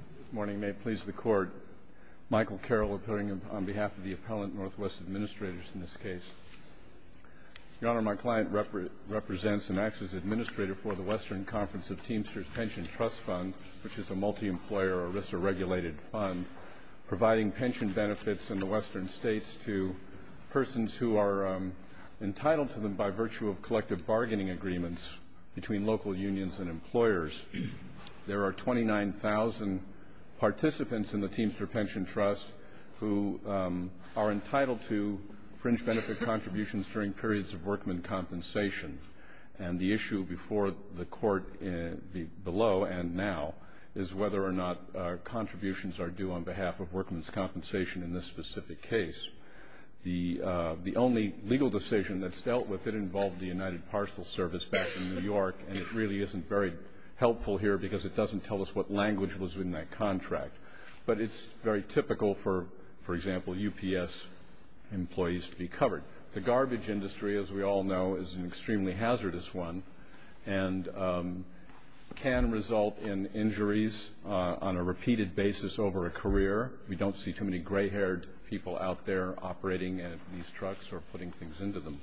Good morning. May it please the Court, Michael Carroll appearing on behalf of the Appellant Northwest Administrators in this case. Your Honor, my client represents and acts as Administrator for the Western Conference of Teamsters Pension Trust Fund, which is a multi-employer, a RISA-regulated fund, providing pension benefits in the Western states to persons who are entitled to them by virtue of collective bargaining agreements between local unions and employers. There are 29,000 participants in the Teamster Pension Trust who are entitled to fringe benefit contributions during periods of workman compensation. And the issue before the Court below and now is whether or not contributions are due on behalf of workman's compensation in this specific case. The only legal decision that's dealt with it involved the United Parcel Service back in New York, and it really isn't very helpful here because it doesn't tell us what language was in that contract. But it's very typical for, for example, UPS employees to be covered. The garbage industry, as we all know, is an extremely hazardous one and can result in injuries on a repeated basis over a career. We don't see too many gray-haired people out there operating these trucks or putting things into them.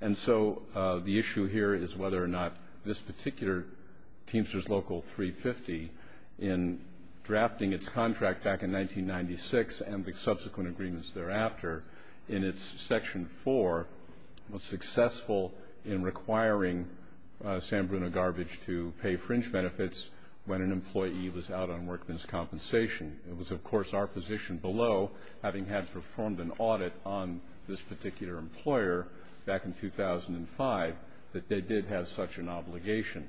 And so the issue here is whether or not this particular Teamster's Local 350, in drafting its contract back in 1996 and the subsequent agreements thereafter, in its Section 4, was successful in requiring San Bruno Garbage to pay fringe benefits when an employee was out on workman's compensation. It was, of course, our position below, having had performed an audit on this particular employer back in 2005, that they did have such an obligation.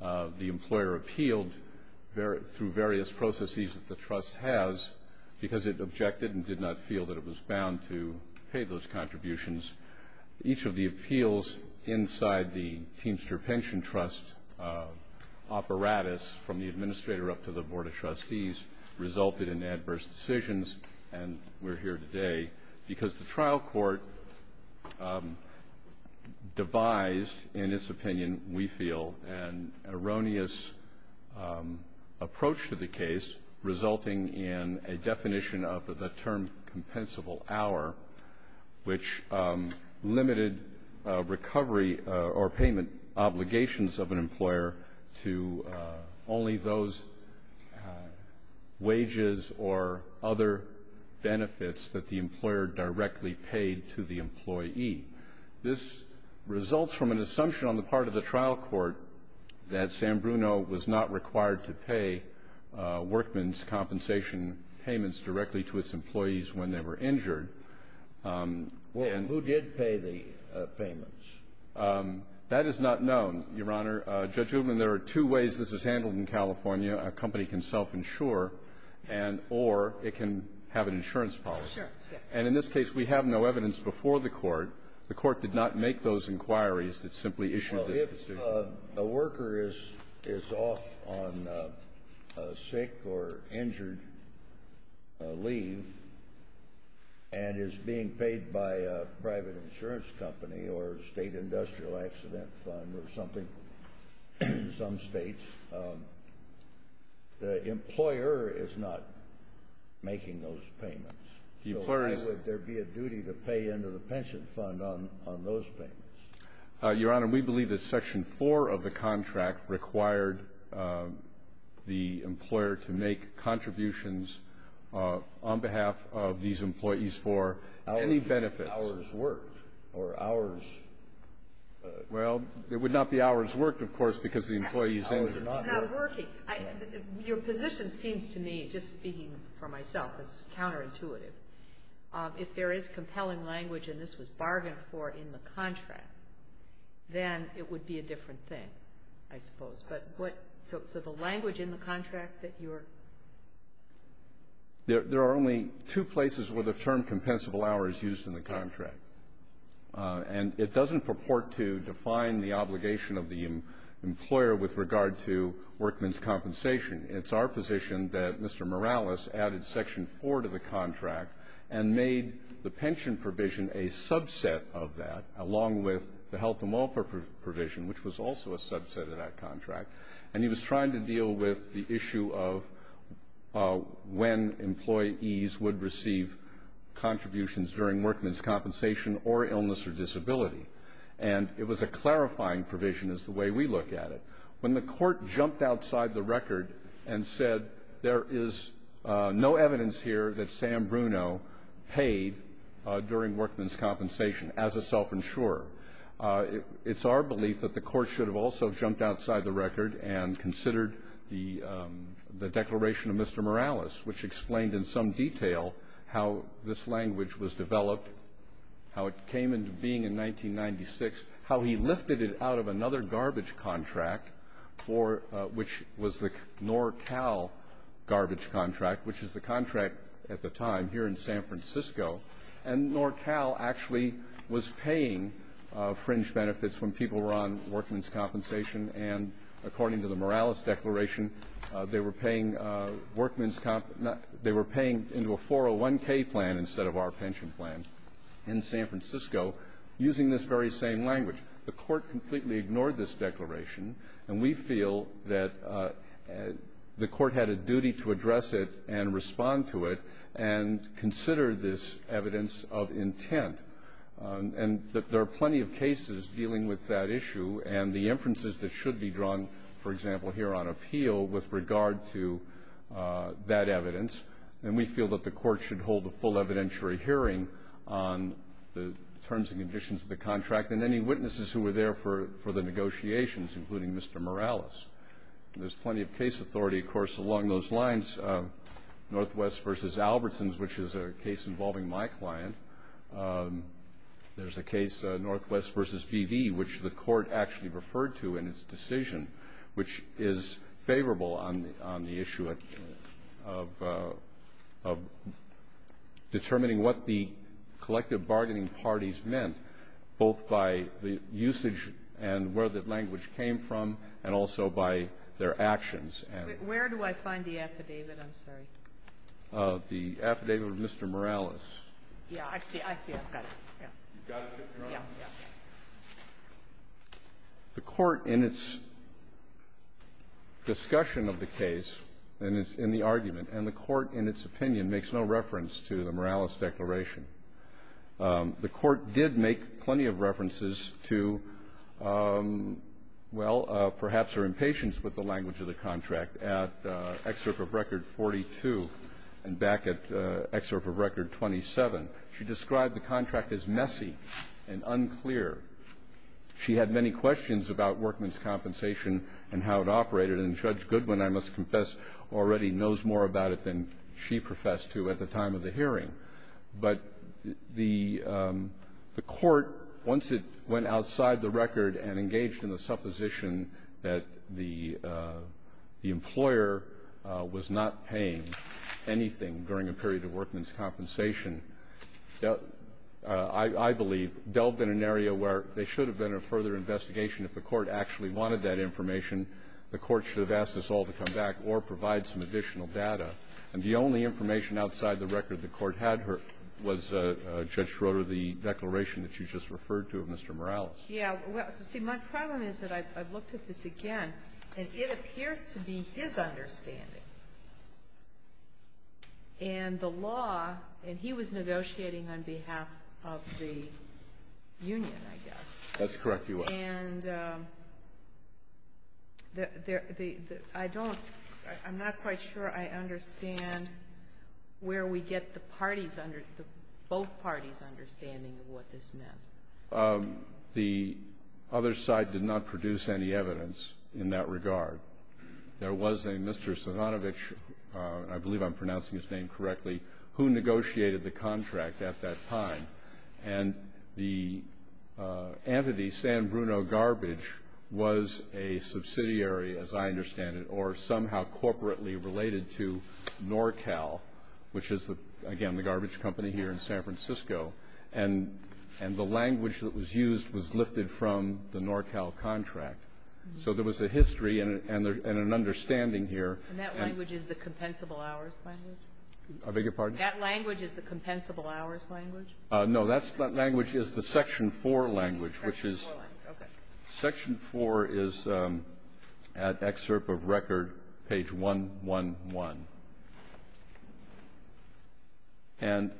The employer appealed through various processes that the trust has because it objected and did not feel that it was bound to pay those contributions. Each of the appeals inside the Teamster Pension Trust apparatus, from the administrator up to the Board of Trustees, resulted in adverse decisions. And we're here today because the trial court devised, in its opinion, we feel, an erroneous approach to the case, resulting in a definition of the term, compensable hour, which limited recovery or payment obligations of an employer to only those wages or contributions or other benefits that the employer directly paid to the employee. This results from an assumption on the part of the trial court that San Bruno was not required to pay workman's compensation payments directly to its employees when they were injured. Well, who did pay the payments? That is not known, Your Honor. Judge Goodman, there are two ways this is handled in California. A company can self-insure and or it can have an insurance policy. Insurance, yes. And in this case, we have no evidence before the court. The court did not make those inquiries. It simply issued this decision. Well, if a worker is off on sick or injured leave and is being paid by a private insurance company or a state industrial accident fund or something in some states, the employer is not making those payments, so why would there be a duty to pay into the pension fund on those payments? Your Honor, we believe that Section 4 of the contract required the employer to make contributions on behalf of these employees for any benefits. But the hours worked or hours... Well, it would not be hours worked, of course, because the employee is injured. Hours are not worked. Your position seems to me, just speaking for myself, is counterintuitive. If there is compelling language and this was bargained for in the contract, then it would be a different thing, I suppose. So the language in the contract that you're... There are only two places where the term compensable hour is used in the contract. And it doesn't purport to define the obligation of the employer with regard to workman's compensation. It's our position that Mr. Morales added Section 4 to the contract and made the pension provision a subset of that, along with the health and welfare provision, which was also a subset of that contract. And he was trying to deal with the issue of when employees would receive contributions during workman's compensation or illness or disability. And it was a clarifying provision is the way we look at it. When the court jumped outside the record and said there is no evidence here that Sam Bruno paid during workman's compensation as a self-insurer, it's our belief that the court should have also jumped outside the record and considered the declaration of Mr. Morales, which explained in some detail how this language was developed, how it came into being in 1996, how he lifted it out of another garbage contract, which was the NorCal garbage contract, which is the contract at the time here in San Francisco. And NorCal actually was paying fringe benefits when people were on workman's compensation. And according to the Morales declaration, they were paying workman's they were paying into a 401K plan instead of our pension plan in San Francisco using this very same language. The court completely ignored this declaration, and we feel that the court had a duty to address it and respond to it and consider this evidence of intent. And that there are plenty of cases dealing with that issue and the inferences that should be drawn, for example, here on appeal with regard to that evidence. And we feel that the court should hold a full evidentiary hearing on the terms and conditions of the contract and any witnesses who were there for the negotiations, including Mr. Morales. There's plenty of case authority, of course, along those lines. Northwest v. Albertsons, which is a case involving my client. There's a case, Northwest v. Beebe, which the court actually referred to in its decision, which is favorable on the issue of determining what the collective bargaining parties meant, both by the usage and where the language came from and also by their actions. Where do I find the affidavit? I'm sorry. The affidavit of Mr. Morales. Yeah, I see. I see. I've got it. You've got it, Your Honor? Yeah. The court, in its discussion of the case and in the argument, and the court, in its opinion, makes no reference to the Morales declaration. The court did make plenty of references to, well, perhaps her impatience with the language of the contract at Excerpt of Record 42 and back at Excerpt of Record 27. She described the contract as messy and unclear. She had many questions about Workman's Compensation and how it operated. And Judge Goodwin, I must confess, already knows more about it than she professed to at the time of the hearing. But the court, once it went outside the record and engaged in the supposition that the employer was not paying anything during a period of Workman's Compensation, I believe, delved in an area where there should have been a further investigation. If the court actually wanted that information, the court should have asked us all to come back or provide some additional data. And the only information outside the record the court had was Judge Schroeder, the declaration that you just referred to of Mr. Morales. Yeah. Well, see, my problem is that I've looked at this again, and it appears to be his understanding. And the law, and he was negotiating on behalf of the union, I guess. That's correct, Your Honor. And I don't, I'm not quite sure I understand where we get the parties, both parties' understanding of what this meant. The other side did not produce any evidence in that regard. There was a Mr. Savanovich, I believe I'm pronouncing his name correctly, who negotiated the contract at that time. And the entity, San Bruno Garbage, was a subsidiary, as I understand it, or somehow corporately related to NorCal, which is, again, the garbage company here in San Francisco. And the language that was used was lifted from the NorCal contract. So there was a history and an understanding here. And that language is the Compensable Hours language? I beg your pardon? That language is the Compensable Hours language? No, that language is the Section 4 language, which is at excerpt of record, page 111. And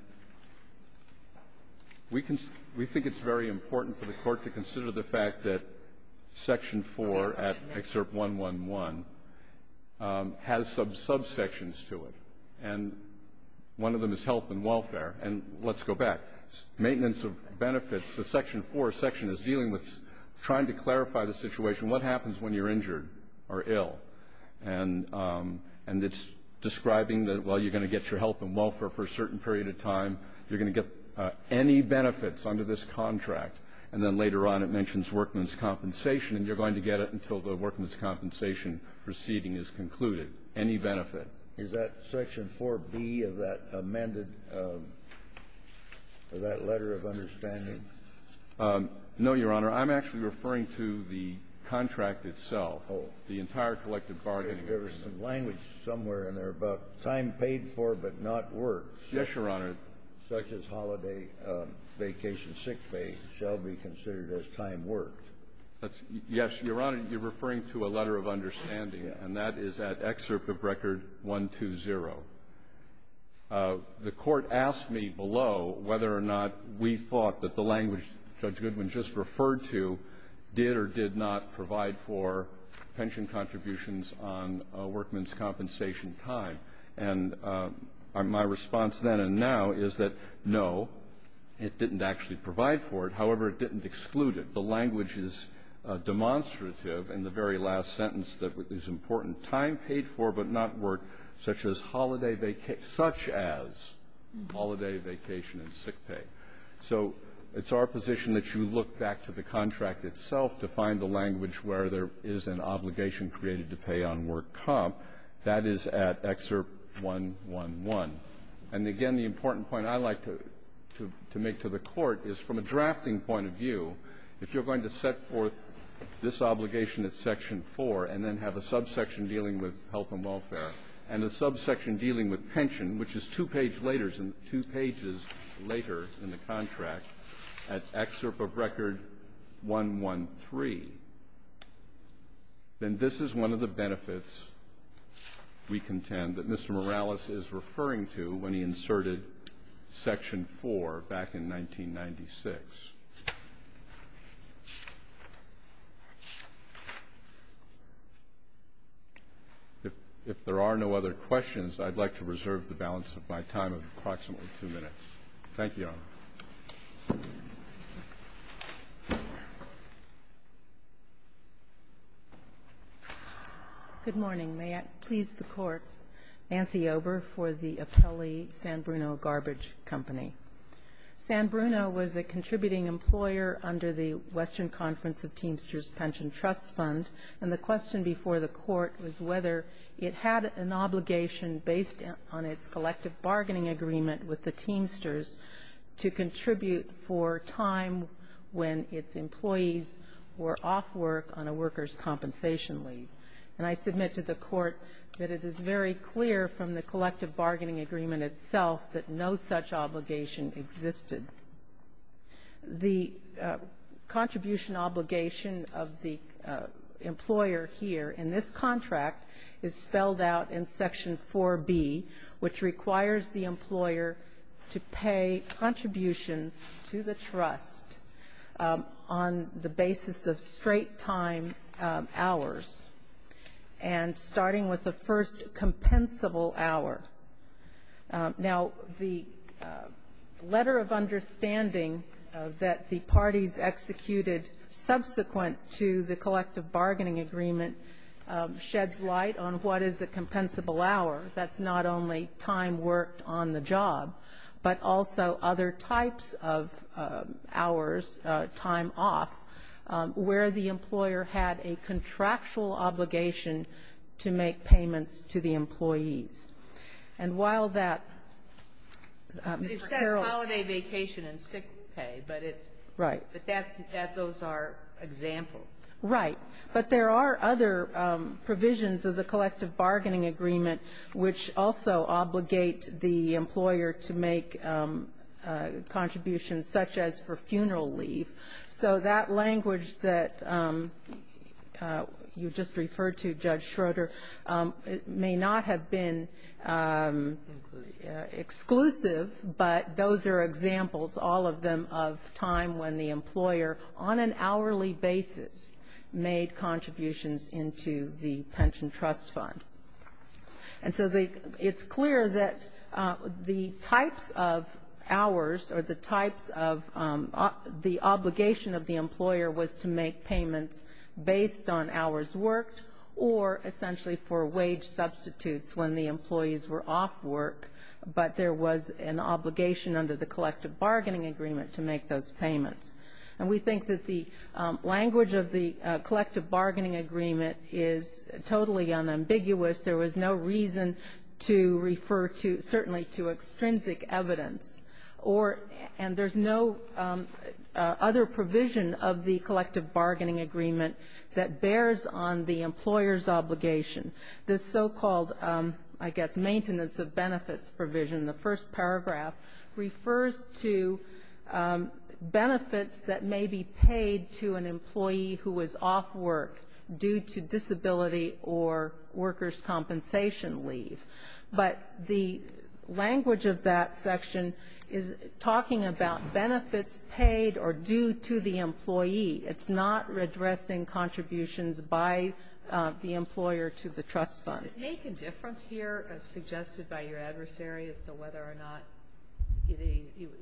we think it's very important for the Court to consider the fact that Section 4 at excerpt 111 has some subsections to it. And one of them is health and welfare. And let's go back. Maintenance of benefits, the Section 4 section is dealing with trying to And it's describing that, well, you're going to get your health and welfare for a certain period of time. You're going to get any benefits under this contract. And then later on, it mentions workman's compensation. And you're going to get it until the workman's compensation proceeding is concluded, any benefit. Is that Section 4B of that amended, of that letter of understanding? No, Your Honor. I'm actually referring to the contract itself, the entire collective bargaining agreement. But there's some language somewhere in there about time paid for but not worked. Yes, Your Honor. Such as holiday, vacation, sick pay shall be considered as time worked. Yes, Your Honor. You're referring to a letter of understanding, and that is at excerpt of record 120. The Court asked me below whether or not we thought that the language Judge Goodwin just referred to did or did not provide for pension contributions on a workman's compensation time. And my response then and now is that, no, it didn't actually provide for it. However, it didn't exclude it. The language is demonstrative in the very last sentence that is important, time paid for but not worked, such as holiday vacation, such as holiday, vacation, and sick pay. So it's our position that you look back to the contract itself to find the language where there is an obligation created to pay on work comp. That is at excerpt 111. And, again, the important point I'd like to make to the Court is, from a drafting point of view, if you're going to set forth this obligation at section 4 and then have a subsection dealing with health and welfare and a subsection dealing with pension, which is two page laters and two pages later in the contract, at excerpt of record 113. Then this is one of the benefits we contend that Mr. Morales is referring to when he inserted section 4 back in 1996. If there are no other questions, I'd like to reserve the balance of my time of approximately two minutes. Thank you, Your Honor. Good morning. May I please the Court, Nancy Ober, for the appellee San Bruno Garbage Company. San Bruno was a contributing employer under the Western Conference of Teamsters Pension Trust Fund, and the question before the Court was whether it had an obligation based on its collective bargaining agreement with the Teamsters to contribute for time when its compensation leave. And I submit to the Court that it is very clear from the collective bargaining agreement itself that no such obligation existed. The contribution obligation of the employer here in this contract is spelled out in section 4B, which requires the employer to pay contributions to the trust on the basis of straight time hours, and starting with the first compensable hour. Now, the letter of understanding that the parties executed subsequent to the collective bargaining agreement sheds light on what is a compensable hour. That's not only time worked on the job, but also other types of hours, time off, where the employer had a contractual obligation to make payments to the employees. And while that, Mr. Carroll It says holiday vacation and sick pay, but it's Right. But that's, those are examples. Right. But there are other provisions of the collective bargaining agreement which also obligate the employer to make contributions such as for funeral leave. So that language that you just referred to, Judge Schroeder, may not have been Exclusive. Exclusive, but those are examples, all of them, of time when the employer, on an hourly basis, made contributions into the pension trust fund. And so it's clear that the types of hours, or the types of, the obligation of the employer was to make payments based on hours worked, or essentially for wage substitutes when the employees were off work, but there was an obligation under the collective bargaining agreement to make those payments. And we think that the language of the collective bargaining agreement is totally unambiguous. There was no reason to refer to, certainly to extrinsic evidence, or, and there's no other provision of the collective bargaining agreement that bears on the employer's obligation. This so-called, I guess, maintenance of benefits provision, the first paragraph, refers to due to disability or workers' compensation leave. But the language of that section is talking about benefits paid or due to the employee. It's not addressing contributions by the employer to the trust fund. Does it make a difference here, as suggested by your adversary, as to whether or not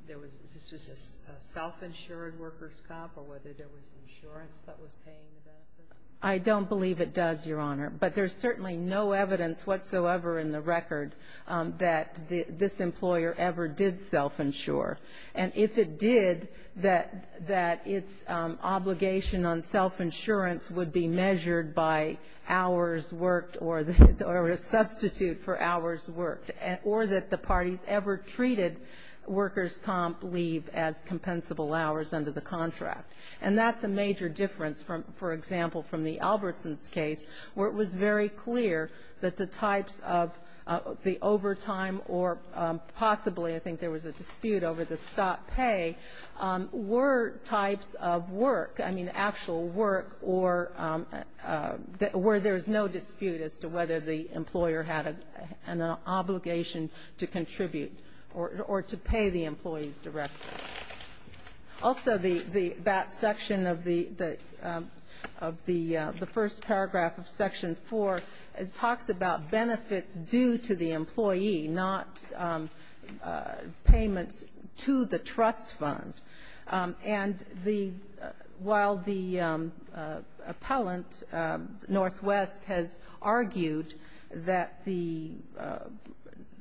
there was, this was a self-insured workers' comp, or whether there was insurance that was paying for it? I don't believe it does, Your Honor. But there's certainly no evidence whatsoever in the record that this employer ever did self-insure. And if it did, that its obligation on self-insurance would be measured by hours worked or a substitute for hours worked, or that the parties ever treated workers' comp leave as compensable hours under the contract. And that's a major difference, for example, from the Albertson's case, where it was very clear that the types of the overtime or possibly, I think there was a dispute over the stop pay, were types of work, I mean, actual work, or where there's no dispute as to whether the employer had an obligation to contribute or to pay the employee's director. Also, that section of the first paragraph of Section 4, it talks about benefits due to the employee, not payments to the trust fund. And the, while the appellant, Northwest, has argued that the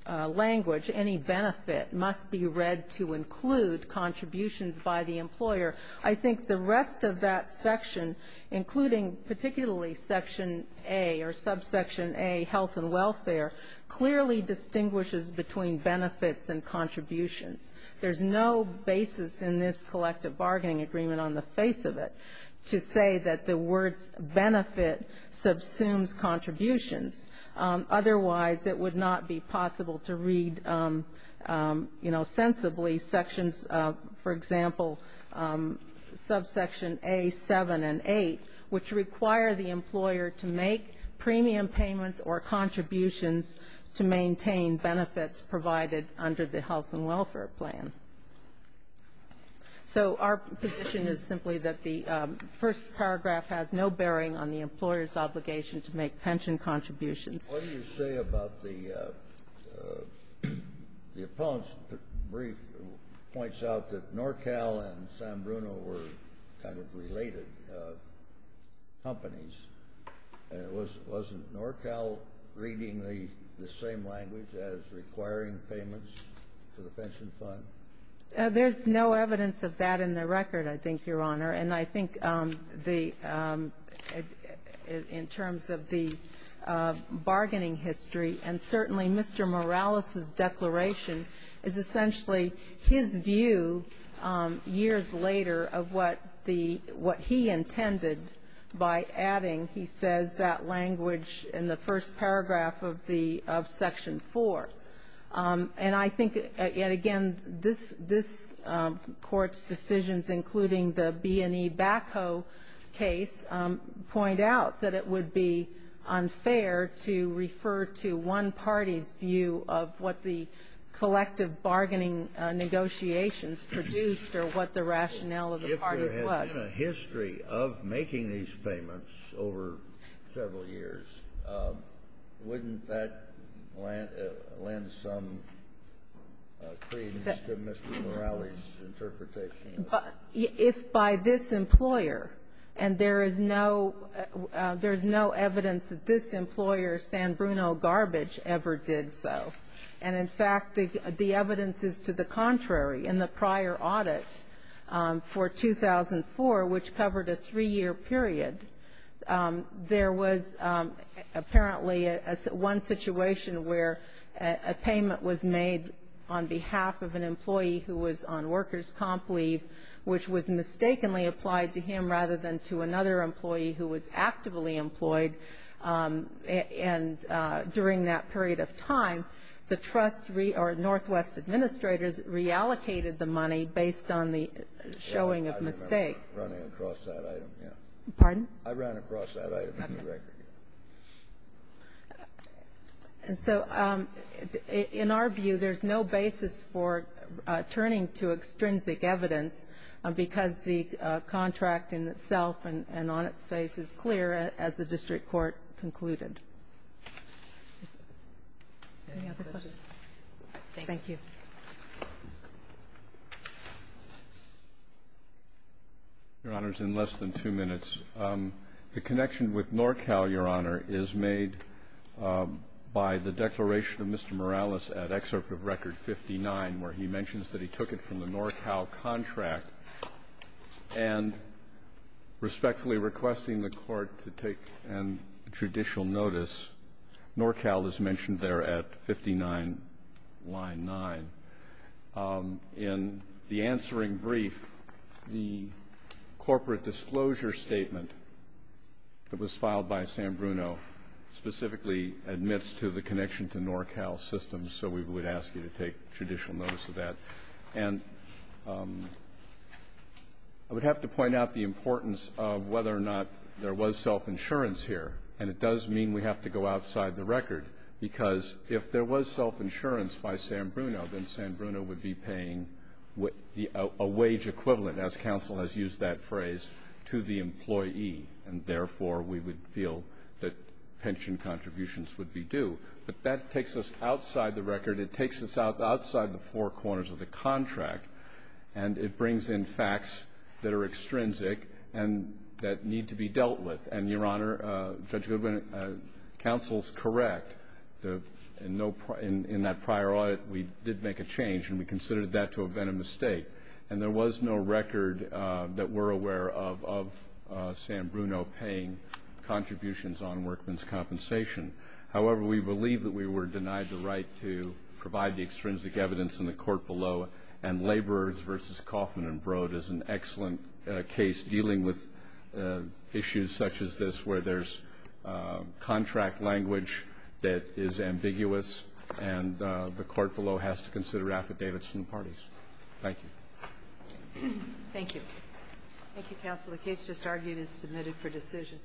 language, any benefit, must be read to include, quote, benefits to contributions by the employer, I think the rest of that section, including particularly Section A, or subsection A, health and welfare, clearly distinguishes between benefits and contributions. There's no basis in this collective bargaining agreement on the face of it to say that the words benefit subsumes contributions. Otherwise, it would not be possible to read, you know, sensibly, sections, for example, subsection A, 7 and 8, which require the employer to make premium payments or contributions to maintain benefits provided under the health and welfare plan. So our position is simply that the first paragraph has no bearing on the employer's obligation to make pension contributions. What do you say about the, the appellant's brief points out that NorCal and San Bruno were kind of related companies, and it wasn't NorCal reading the same language as requiring payments to the pension fund? There's no evidence of that in the record, I think, Your Honor. And I think the, in terms of the bargaining history, and certainly Mr. Morales's declaration is essentially his view years later of what the, what he intended by adding, he says, that language in the first paragraph of the, of Section 4. And I think, and again, this, this Court's view is that it would be unfair to refer to one party's view of what the collective bargaining negotiations produced or what the rationale of the parties was. If there had been a history of making these payments over several years, wouldn't that lend some credence to Mr. Morales's interpretation? If by this employer, and there is no, there is no evidence that this employer, San Bruno Garbage, ever did so. And in fact, the evidence is to the contrary. In the prior audit for 2004, which covered a three-year period, there was apparently one situation where a payment was made on behalf of an employee who was on workers' comp leave, which was mistakenly applied to him rather than to another employee who was actively employed. And during that period of time, the trust, or Northwest Administrators, reallocated the money based on the showing of mistake. I remember running across that item, yeah. Pardon? I ran across that item in the record. And so in our view, there's no basis for turning to extrinsic evidence because the contract in itself and on its face is clear, as the district court concluded. Any other questions? Thank you. Thank you. Your Honors, in less than two minutes. The connection with NorCal, Your Honor, is made by the declaration of Mr. Morales at Excerpt of Record 59, where he mentions that he took it from the NorCal contract and respectfully requesting the Court to take judicial notice. NorCal is mentioned there at 59, line 9. In the answering brief, the corporate disclosure statement that was filed by San Bruno specifically admits to the connection to NorCal systems, so we would ask you to take judicial notice of that. And I would have to point out the importance of whether or not there was self-insurance here. And it does mean we have to go outside the record, because if there was self-insurance by San Bruno, then San Bruno would be paying a wage equivalent, as counsel has used that phrase, to the employee, and therefore we would feel that pension contributions would be due. But that takes us outside the record. It takes us outside the four corners of the contract, and it brings in facts that are extrinsic and that need to be dealt with. And, Your Honor, Judge Goodwin, counsel is correct. In that prior audit, we did make a change, and we considered that to have been a mistake. And there was no record that we're aware of of San Bruno paying contributions on workman's compensation. However, we believe that we were denied the right to provide the extrinsic evidence in the court below. And laborers versus Kaufman and Broad is an excellent case dealing with issues such as this, where there's contract language that is ambiguous, and the court below has to consider affidavits from the parties. Thank you. Thank you. Thank you, counsel. The case just argued is submitted for decision.